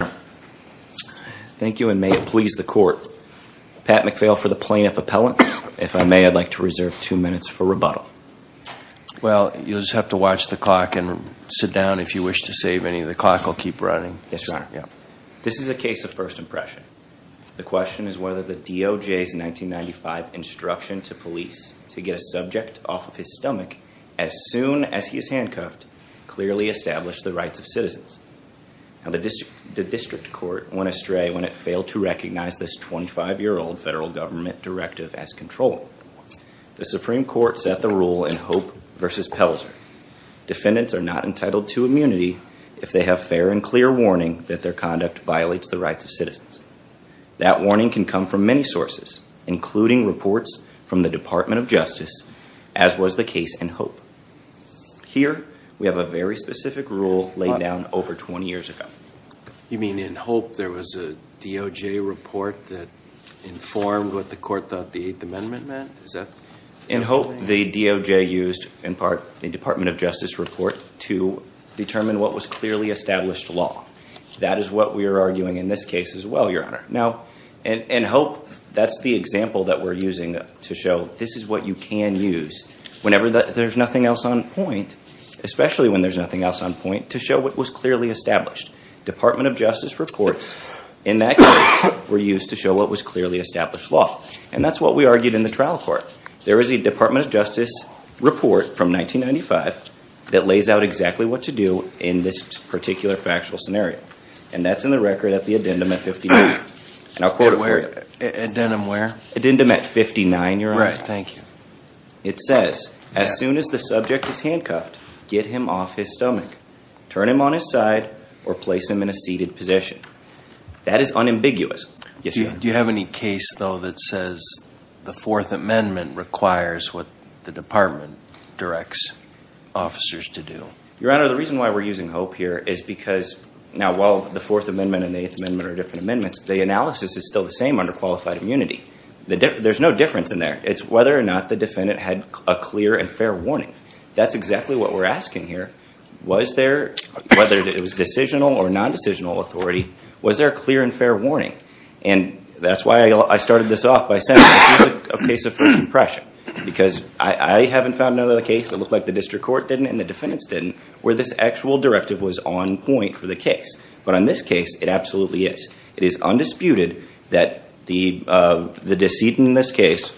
Thank you and may it please the court. Pat McPhail for the Plaintiff Appellants. If I may, I'd like to reserve two minutes for rebuttal. Well, you'll just have to watch the clock and sit down if you wish to save any. The clock will keep running. Yes, Your Honor. This is a case of first impression. The question is whether the DOJ's 1995 instruction to police to get a subject off of his stomach as soon as he is handcuffed clearly established the rights of citizens. The district court went astray when it failed to recognize this 25-year-old federal government directive as controlling. The Supreme Court set the rule in Hope v. Pelzer. Defendants are not entitled to immunity if they have fair and clear warning that their conduct violates the rights of citizens. That warning can come from many sources, including reports from the Department of Justice, as was the case in Hope. Here, we have a very specific rule laid down over 20 years ago. You mean in Hope there was a DOJ report that informed what the court thought the Eighth Amendment meant? In Hope, the DOJ used, in part, the Department of Justice report to determine what was clearly established law. That is what we are arguing in this case as well, Your Honor. Now, in Hope, that's the example that we're using to show this is what you can use. Whenever there's nothing else on point, especially when there's nothing else on point, to show what was clearly established. Department of Justice reports, in that case, were used to show what was clearly established law. And that's what we argued in the trial court. There is a Department of Justice report from 1995 that lays out exactly what to do in this particular factual scenario. And that's in the record at the addendum at 59. And I'll quote it for you. Addendum where? Addendum at 59, Your Honor. Right. Thank you. It says, as soon as the subject is handcuffed, get him off his stomach. Turn him on his side or place him in a seated position. That is unambiguous. Yes, Your Honor. Do you have any case, though, that says the Fourth Amendment requires what the department directs officers to do? Your Honor, the reason why we're using Hope here is because, now, while the Fourth Amendment and the Eighth Amendment are different amendments, the analysis is still the same under qualified immunity. There's no difference in there. It's whether or not the defendant had a clear and fair warning. That's exactly what we're asking here. Was there, whether it was decisional or nondecisional authority, was there a clear and fair warning? And that's why I started this off by saying this is a case of first impression. Because I haven't found another case that looked like the district court didn't and the defendants didn't, where this actual directive was on point for the case. But on this case, it absolutely is. It is undisputed that the decedent in this case,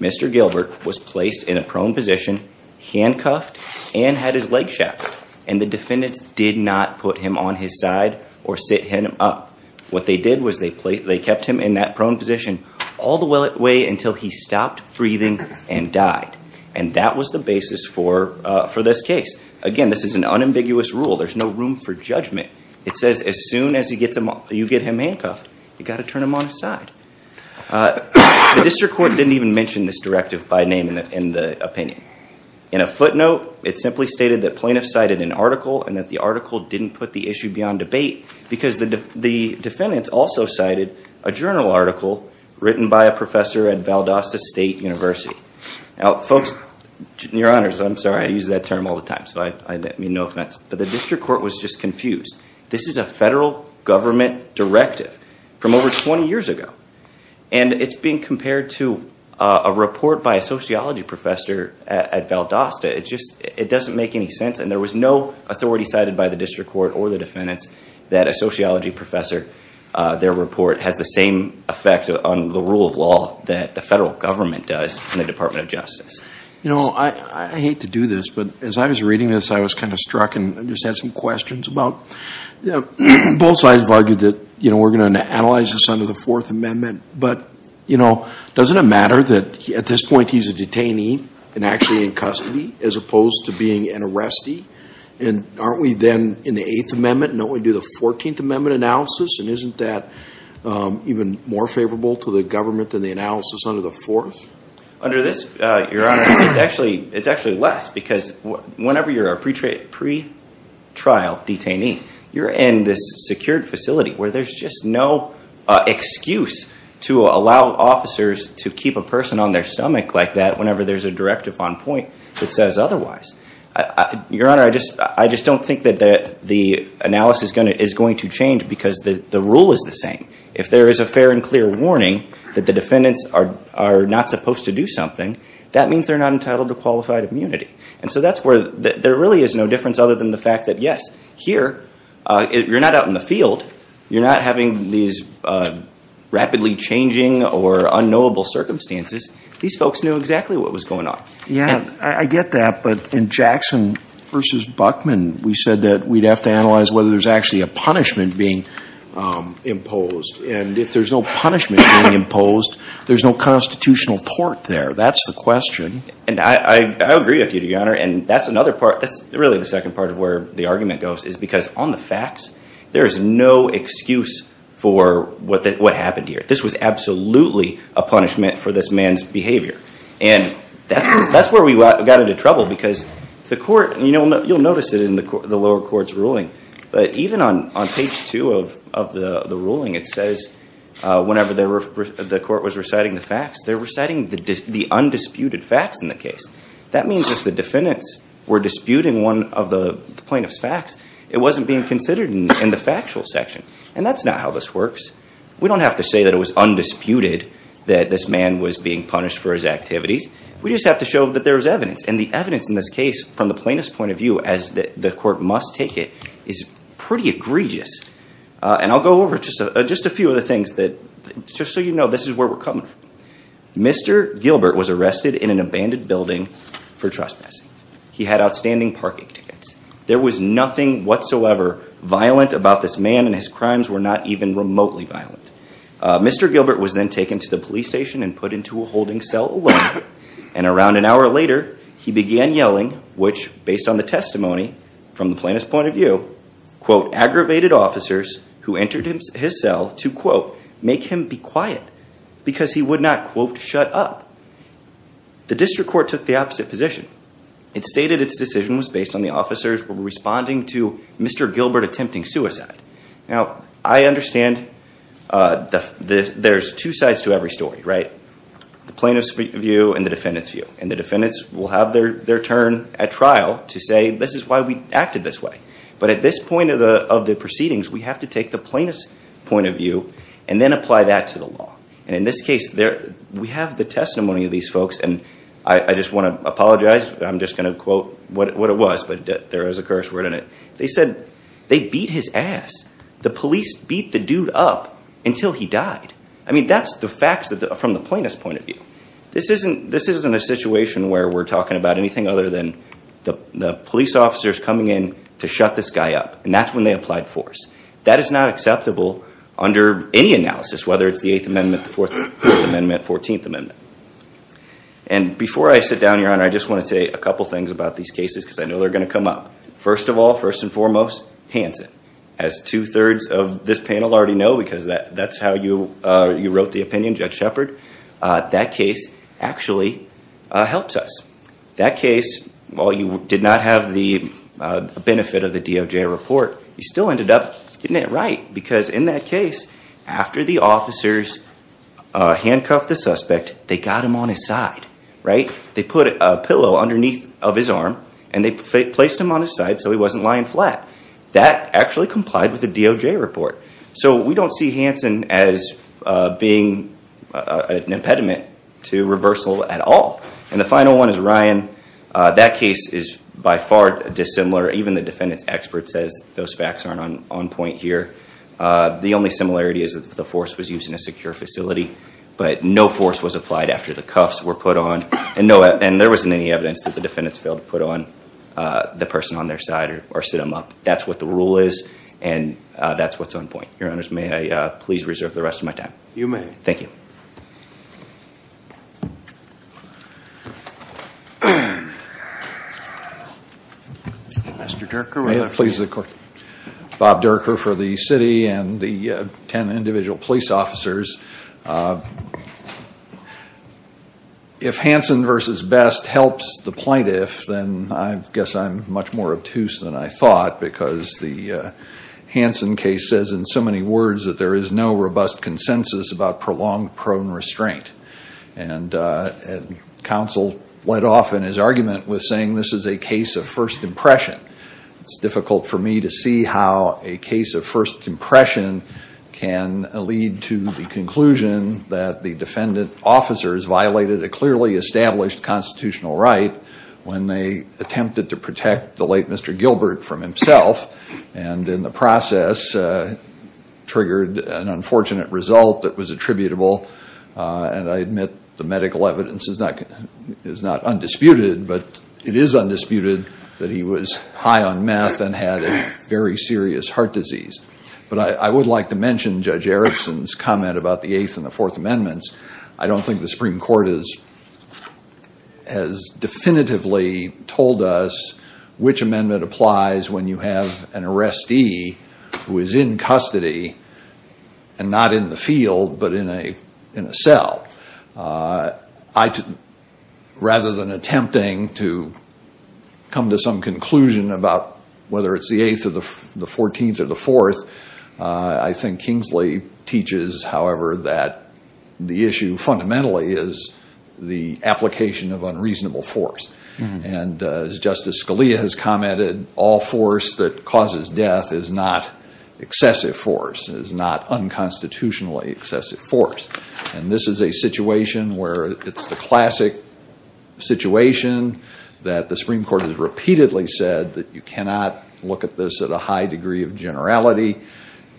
Mr. Gilbert, was placed in a prone position, handcuffed, and had his leg shackled. And the defendants did not put him on his side or sit him up. What they did was they kept him in that prone position all the way until he stopped breathing and died. And that was the basis for this case. Again, this is an unambiguous rule. There's no room for judgment. It says as soon as you get him handcuffed, you've got to turn him on his side. The district court didn't even mention this directive by name in the opinion. In a footnote, it simply stated that plaintiffs cited an article and that the article didn't put the issue beyond debate because the defendants also cited a journal article written by a professor at Valdosta State University. Now, folks, your honors, I'm sorry. I use that term all the time, so I mean no offense. But the district court was just confused. This is a federal government directive from over 20 years ago. And it's being compared to a report by a sociology professor at Valdosta. It just doesn't make any sense. And there was no authority cited by the district court or the defendants that a sociology professor, their report has the same effect on the rule of law that the federal government does in the Department of Justice. You know, I hate to do this, but as I was reading this, I was kind of struck. And I just had some questions about, you know, both sides have argued that, you know, we're going to analyze this under the Fourth Amendment. But, you know, doesn't it matter that at this point he's a detainee and actually in custody as opposed to being an arrestee? And aren't we then in the Eighth Amendment, and don't we do the Fourteenth Amendment analysis? And isn't that even more favorable to the government than the analysis under the Fourth? Under this, Your Honor, it's actually less because whenever you're a pretrial detainee, you're in this secured facility where there's just no excuse to allow officers to keep a person on their stomach like that whenever there's a directive on point that says otherwise. Your Honor, I just don't think that the analysis is going to change because the rule is the same. If there is a fair and clear warning that the defendants are not supposed to do something, that means they're not entitled to qualified immunity. And so that's where there really is no difference other than the fact that, yes, here you're not out in the field. You're not having these rapidly changing or unknowable circumstances. These folks knew exactly what was going on. Yeah, I get that. But in Jackson v. Buckman, we said that we'd have to analyze whether there's actually a punishment being imposed. And if there's no punishment being imposed, there's no constitutional tort there. That's the question. And I agree with you, Your Honor. And that's another part. That's really the second part of where the argument goes is because on the facts, there is no excuse for what happened here. This was absolutely a punishment for this man's behavior. And that's where we got into trouble because the court, you'll notice it in the lower court's ruling, but even on page two of the ruling, it says whenever the court was reciting the facts, they're reciting the undisputed facts in the case. That means if the defendants were disputing one of the plaintiff's facts, it wasn't being considered in the factual section. And that's not how this works. We don't have to say that it was undisputed that this man was being punished for his activities. We just have to show that there was evidence. And the evidence in this case, from the plaintiff's point of view, as the court must take it, is pretty egregious. And I'll go over just a few of the things just so you know this is where we're coming from. Mr. Gilbert was arrested in an abandoned building for trespassing. He had outstanding parking tickets. There was nothing whatsoever violent about this man, and his crimes were not even remotely violent. Mr. Gilbert was then taken to the police station and put into a holding cell alone. And around an hour later, he began yelling, which, based on the testimony from the plaintiff's point of view, quote, aggravated officers who entered his cell to, quote, make him be quiet because he would not, quote, shut up. The district court took the opposite position. It stated its decision was based on the officers responding to Mr. Gilbert attempting suicide. Now, I understand there's two sides to every story, right, the plaintiff's view and the defendant's view. And the defendants will have their turn at trial to say this is why we acted this way. But at this point of the proceedings, we have to take the plaintiff's point of view and then apply that to the law. And in this case, we have the testimony of these folks, and I just want to apologize. I'm just going to quote what it was, but there is a curse word in it. They said they beat his ass. The police beat the dude up until he died. I mean, that's the facts from the plaintiff's point of view. This isn't a situation where we're talking about anything other than the police officers coming in to shut this guy up. And that's when they applied force. That is not acceptable under any analysis, whether it's the 8th Amendment, the 4th Amendment, 14th Amendment. And before I sit down, Your Honor, I just want to say a couple things about these cases because I know they're going to come up. First of all, first and foremost, Hanson. As two-thirds of this panel already know because that's how you wrote the opinion, Judge Shepard, that case actually helps us. That case, while you did not have the benefit of the DOJ report, you still ended up getting it right. Because in that case, after the officers handcuffed the suspect, they got him on his side, right? They put a pillow underneath of his arm, and they placed him on his side so he wasn't lying flat. That actually complied with the DOJ report. So we don't see Hanson as being an impediment to reversal at all. And the final one is Ryan. That case is by far dissimilar. Even the defendant's expert says those facts aren't on point here. The only similarity is that the force was used in a secure facility, but no force was applied after the cuffs were put on. And there wasn't any evidence that the defendants failed to put on the person on their side or sit him up. That's what the rule is, and that's what's on point. Your Honors, may I please reserve the rest of my time? You may. Thank you. Thank you. Mr. Derker. Bob Derker for the city and the ten individual police officers. If Hanson versus Best helps the plaintiff, then I guess I'm much more obtuse than I thought, because the Hanson case says in so many words that there is no robust consensus about prolonged prone restraint. And counsel led off in his argument with saying this is a case of first impression. It's difficult for me to see how a case of first impression can lead to the conclusion that the defendant officers violated a clearly established constitutional right when they attempted to protect the late Mr. Gilbert from himself and in the process triggered an unfortunate result that was attributable. And I admit the medical evidence is not undisputed, but it is undisputed that he was high on meth and had a very serious heart disease. But I would like to mention Judge Erickson's comment about the Eighth and the Fourth Amendments. I don't think the Supreme Court has definitively told us which amendment applies when you have an arrestee who is in custody and not in the field but in a cell. Rather than attempting to come to some conclusion about whether it's the Eighth or the Fourteenth or the Fourth, I think Kingsley teaches, however, that the issue fundamentally is the application of unreasonable force. And as Justice Scalia has commented, all force that causes death is not excessive force, is not unconstitutionally excessive force. And this is a situation where it's the classic situation that the Supreme Court has repeatedly said that you cannot look at this at a high degree of generality.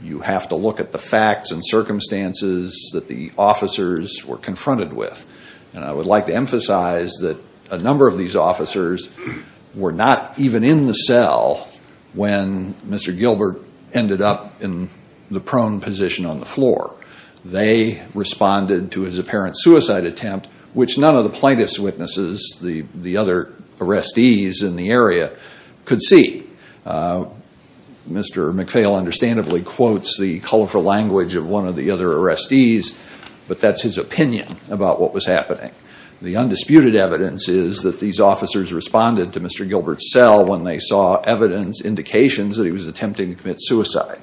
You have to look at the facts and circumstances that the officers were confronted with. And I would like to emphasize that a number of these officers were not even in the cell when Mr. Gilbert ended up in the prone position on the floor. They responded to his apparent suicide attempt, which none of the plaintiff's witnesses, the other arrestees in the area, could see. Mr. McPhail understandably quotes the colorful language of one of the other arrestees, but that's his opinion about what was happening. The undisputed evidence is that these officers responded to Mr. Gilbert's cell when they saw evidence, indications, that he was attempting to commit suicide.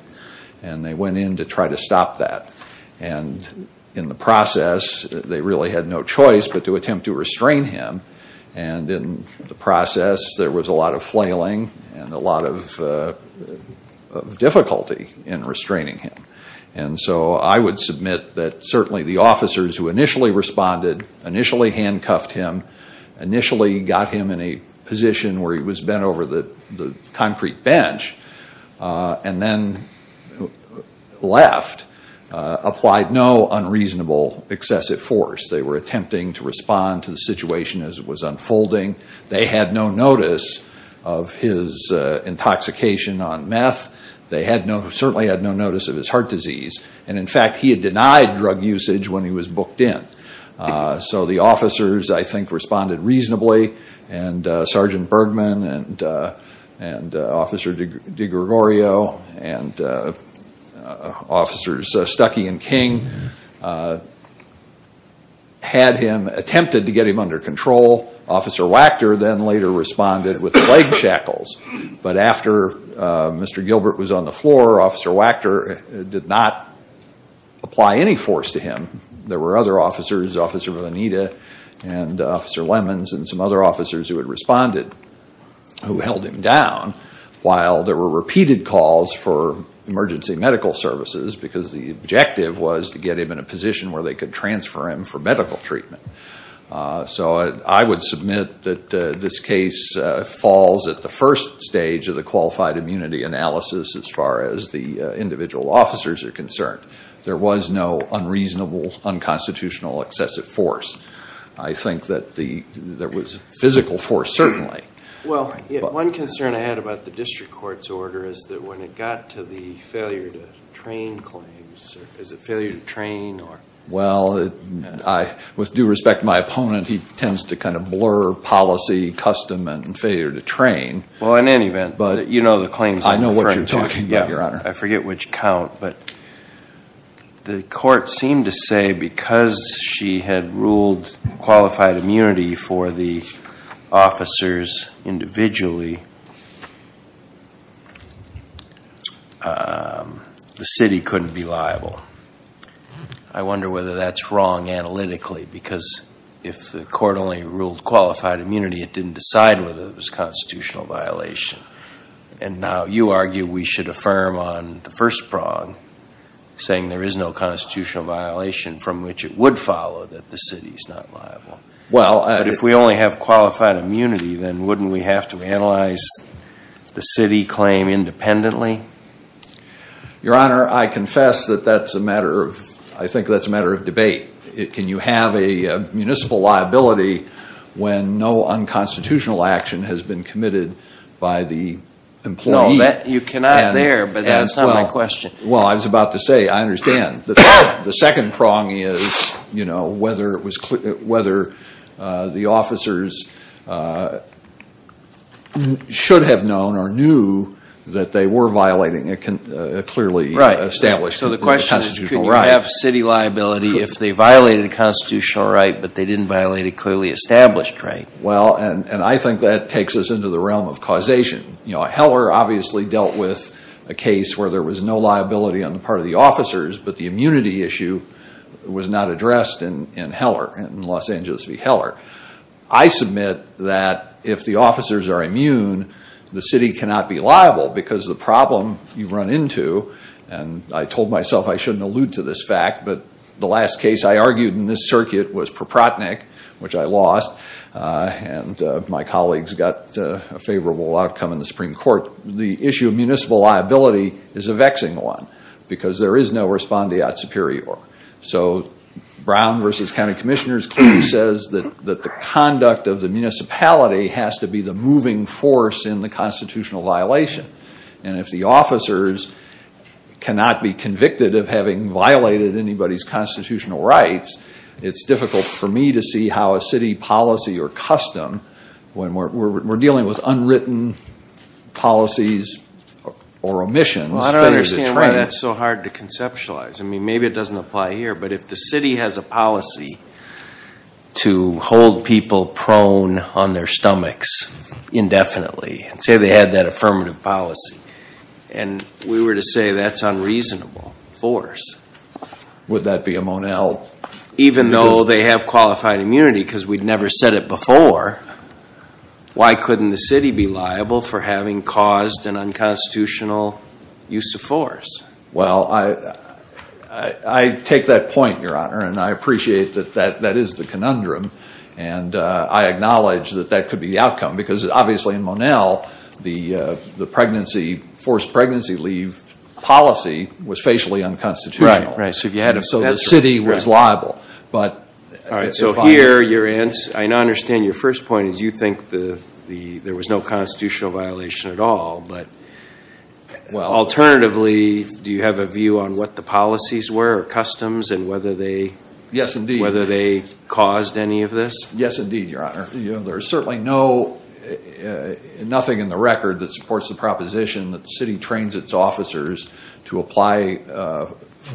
And they went in to try to stop that. And in the process, they really had no choice but to attempt to restrain him. And in the process, there was a lot of flailing and a lot of difficulty in restraining him. And so I would submit that certainly the officers who initially responded, initially handcuffed him, initially got him in a position where he was bent over the concrete bench, and then left, applied no unreasonable excessive force. They were attempting to respond to the situation as it was unfolding. They had no notice of his intoxication on meth. They certainly had no notice of his heart disease. And in fact, he had denied drug usage when he was booked in. So the officers, I think, responded reasonably. And Sergeant Bergman and Officer DiGregorio and Officers Stuckey and King had him, attempted to get him under control. Officer Wachter then later responded with leg shackles. But after Mr. Gilbert was on the floor, Officer Wachter did not apply any force to him. There were other officers, Officer Vanita and Officer Lemons and some other officers who had responded, who held him down, while there were repeated calls for emergency medical services, because the objective was to get him in a position where they could transfer him for medical treatment. So I would submit that this case falls at the first stage of the qualified immunity analysis as far as the individual officers are concerned. There was no unreasonable, unconstitutional, excessive force. I think that there was physical force, certainly. Well, one concern I had about the district court's order is that when it got to the failure to train claims, is it failure to train? Well, with due respect to my opponent, he tends to kind of blur policy, custom, and failure to train. Well, in any event, you know the claims I'm referring to. I know what you're talking about, Your Honor. I forget which count, but the court seemed to say because she had ruled qualified immunity for the officers individually, the city couldn't be liable. I wonder whether that's wrong analytically, because if the court only ruled qualified immunity, it didn't decide whether it was a constitutional violation. And now you argue we should affirm on the first prong, saying there is no constitutional violation from which it would follow that the city is not liable. But if we only have qualified immunity, then wouldn't we have to analyze the city claim independently? Your Honor, I confess that that's a matter of, I think that's a matter of debate. Can you have a municipal liability when no unconstitutional action has been committed by the employee? No, you cannot there, but that's not my question. Well, I was about to say, I understand. The second prong is, you know, whether the officers should have known or knew that they were violating a clearly established constitutional right. They could have city liability if they violated a constitutional right, but they didn't violate a clearly established right. Well, and I think that takes us into the realm of causation. You know, Heller obviously dealt with a case where there was no liability on the part of the officers, but the immunity issue was not addressed in Heller, in Los Angeles v. Heller. I submit that if the officers are immune, the city cannot be liable, because the problem you run into, and I told myself I shouldn't allude to this fact, but the last case I argued in this circuit was Proprotnick, which I lost, and my colleagues got a favorable outcome in the Supreme Court. The issue of municipal liability is a vexing one, because there is no respondeat superior. So Brown v. County Commissioners clearly says that the conduct of the municipality has to be the moving force in the constitutional violation, and if the officers cannot be convicted of having violated anybody's constitutional rights, it's difficult for me to see how a city policy or custom, when we're dealing with unwritten policies or omissions, figures a trend. Well, I don't understand why that's so hard to conceptualize. I mean, maybe it doesn't apply here, but if the city has a policy to hold people prone on their stomachs indefinitely, say they had that affirmative policy, and we were to say that's unreasonable, force. Would that be a Monell? Even though they have qualified immunity, because we'd never said it before, why couldn't the city be liable for having caused an unconstitutional use of force? Well, I take that point, Your Honor, and I appreciate that that is the conundrum, and I acknowledge that that could be the outcome, because obviously in Monell, the forced pregnancy leave policy was facially unconstitutional. Right, right. So the city was liable. All right, so here, I understand your first point is you think there was no constitutional violation at all, but alternatively, do you have a view on what the policies were or customs and whether they caused any of this? Yes, indeed, Your Honor. There is certainly nothing in the record that supports the proposition that the city trains its officers to apply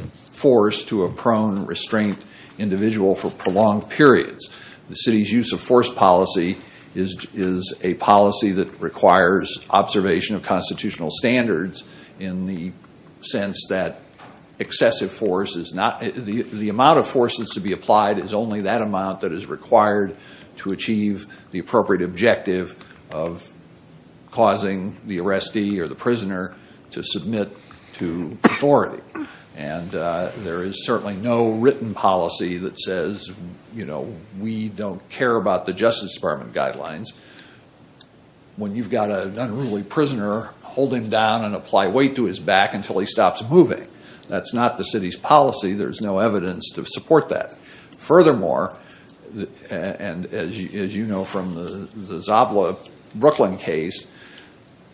force to a prone, restrained individual for prolonged periods. The city's use of force policy is a policy that requires observation of constitutional standards in the sense that excessive force is not the amount of force that's to be applied is only that amount that is required to achieve the appropriate objective of causing the arrestee or the prisoner to submit to authority. And there is certainly no written policy that says, you know, we don't care about the Justice Department guidelines. When you've got an unruly prisoner, hold him down and apply weight to his back until he stops moving. That's not the city's policy. There's no evidence to support that. Furthermore, and as you know from the Zabla-Brooklyn case,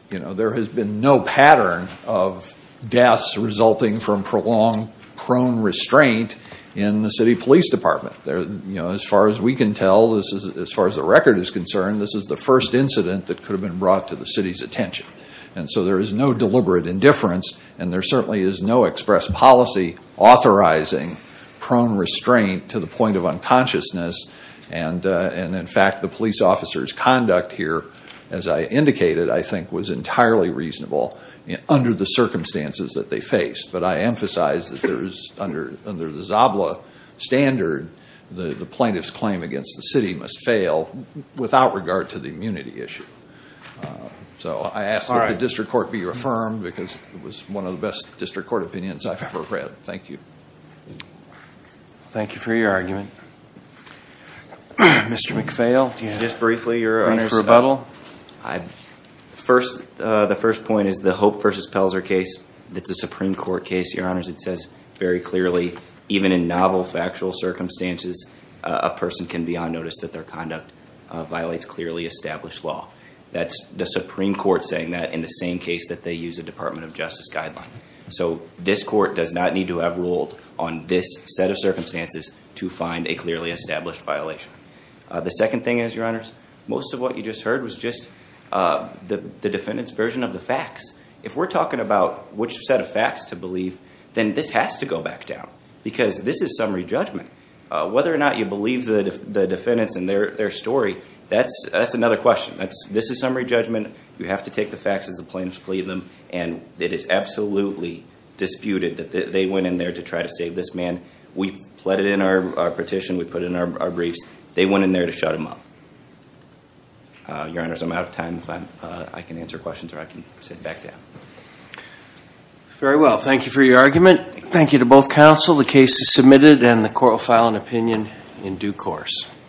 there has been no pattern of deaths resulting from prolonged prone restraint in the city police department. As far as we can tell, as far as the record is concerned, this is the first incident that could have been brought to the city's attention. And so there is no deliberate indifference, and there certainly is no express policy authorizing prone restraint to the point of unconsciousness. And, in fact, the police officer's conduct here, as I indicated, I think was entirely reasonable under the circumstances that they faced. But I emphasize that there is, under the Zabla standard, the plaintiff's claim against the city must fail without regard to the immunity issue. So I ask that the district court be reaffirmed because it was one of the best district court opinions I've ever read. Thank you. Thank you for your argument. Mr. McPhail, do you have a brief rebuttal? The first point is the Hope v. Pelzer case. It's a Supreme Court case, Your Honors. It says very clearly, even in novel factual circumstances, a person can be on notice that their conduct violates clearly established law. That's the Supreme Court saying that in the same case that they use a Department of Justice guideline. So this court does not need to have ruled on this set of circumstances to find a clearly established violation. The second thing is, Your Honors, most of what you just heard was just the defendant's version of the facts. If we're talking about which set of facts to believe, then this has to go back down because this is summary judgment. Whether or not you believe the defendants and their story, that's another question. This is summary judgment. You have to take the facts as the plaintiffs plead them, and it is absolutely disputed that they went in there to try to save this man. We've pleaded in our petition. We've put in our briefs. They went in there to shut him up. Your Honors, I'm out of time. I can answer questions, or I can sit back down. Very well. Thank you for your argument. Thank you to both counsel. The case is submitted, and the court will file an opinion in due course.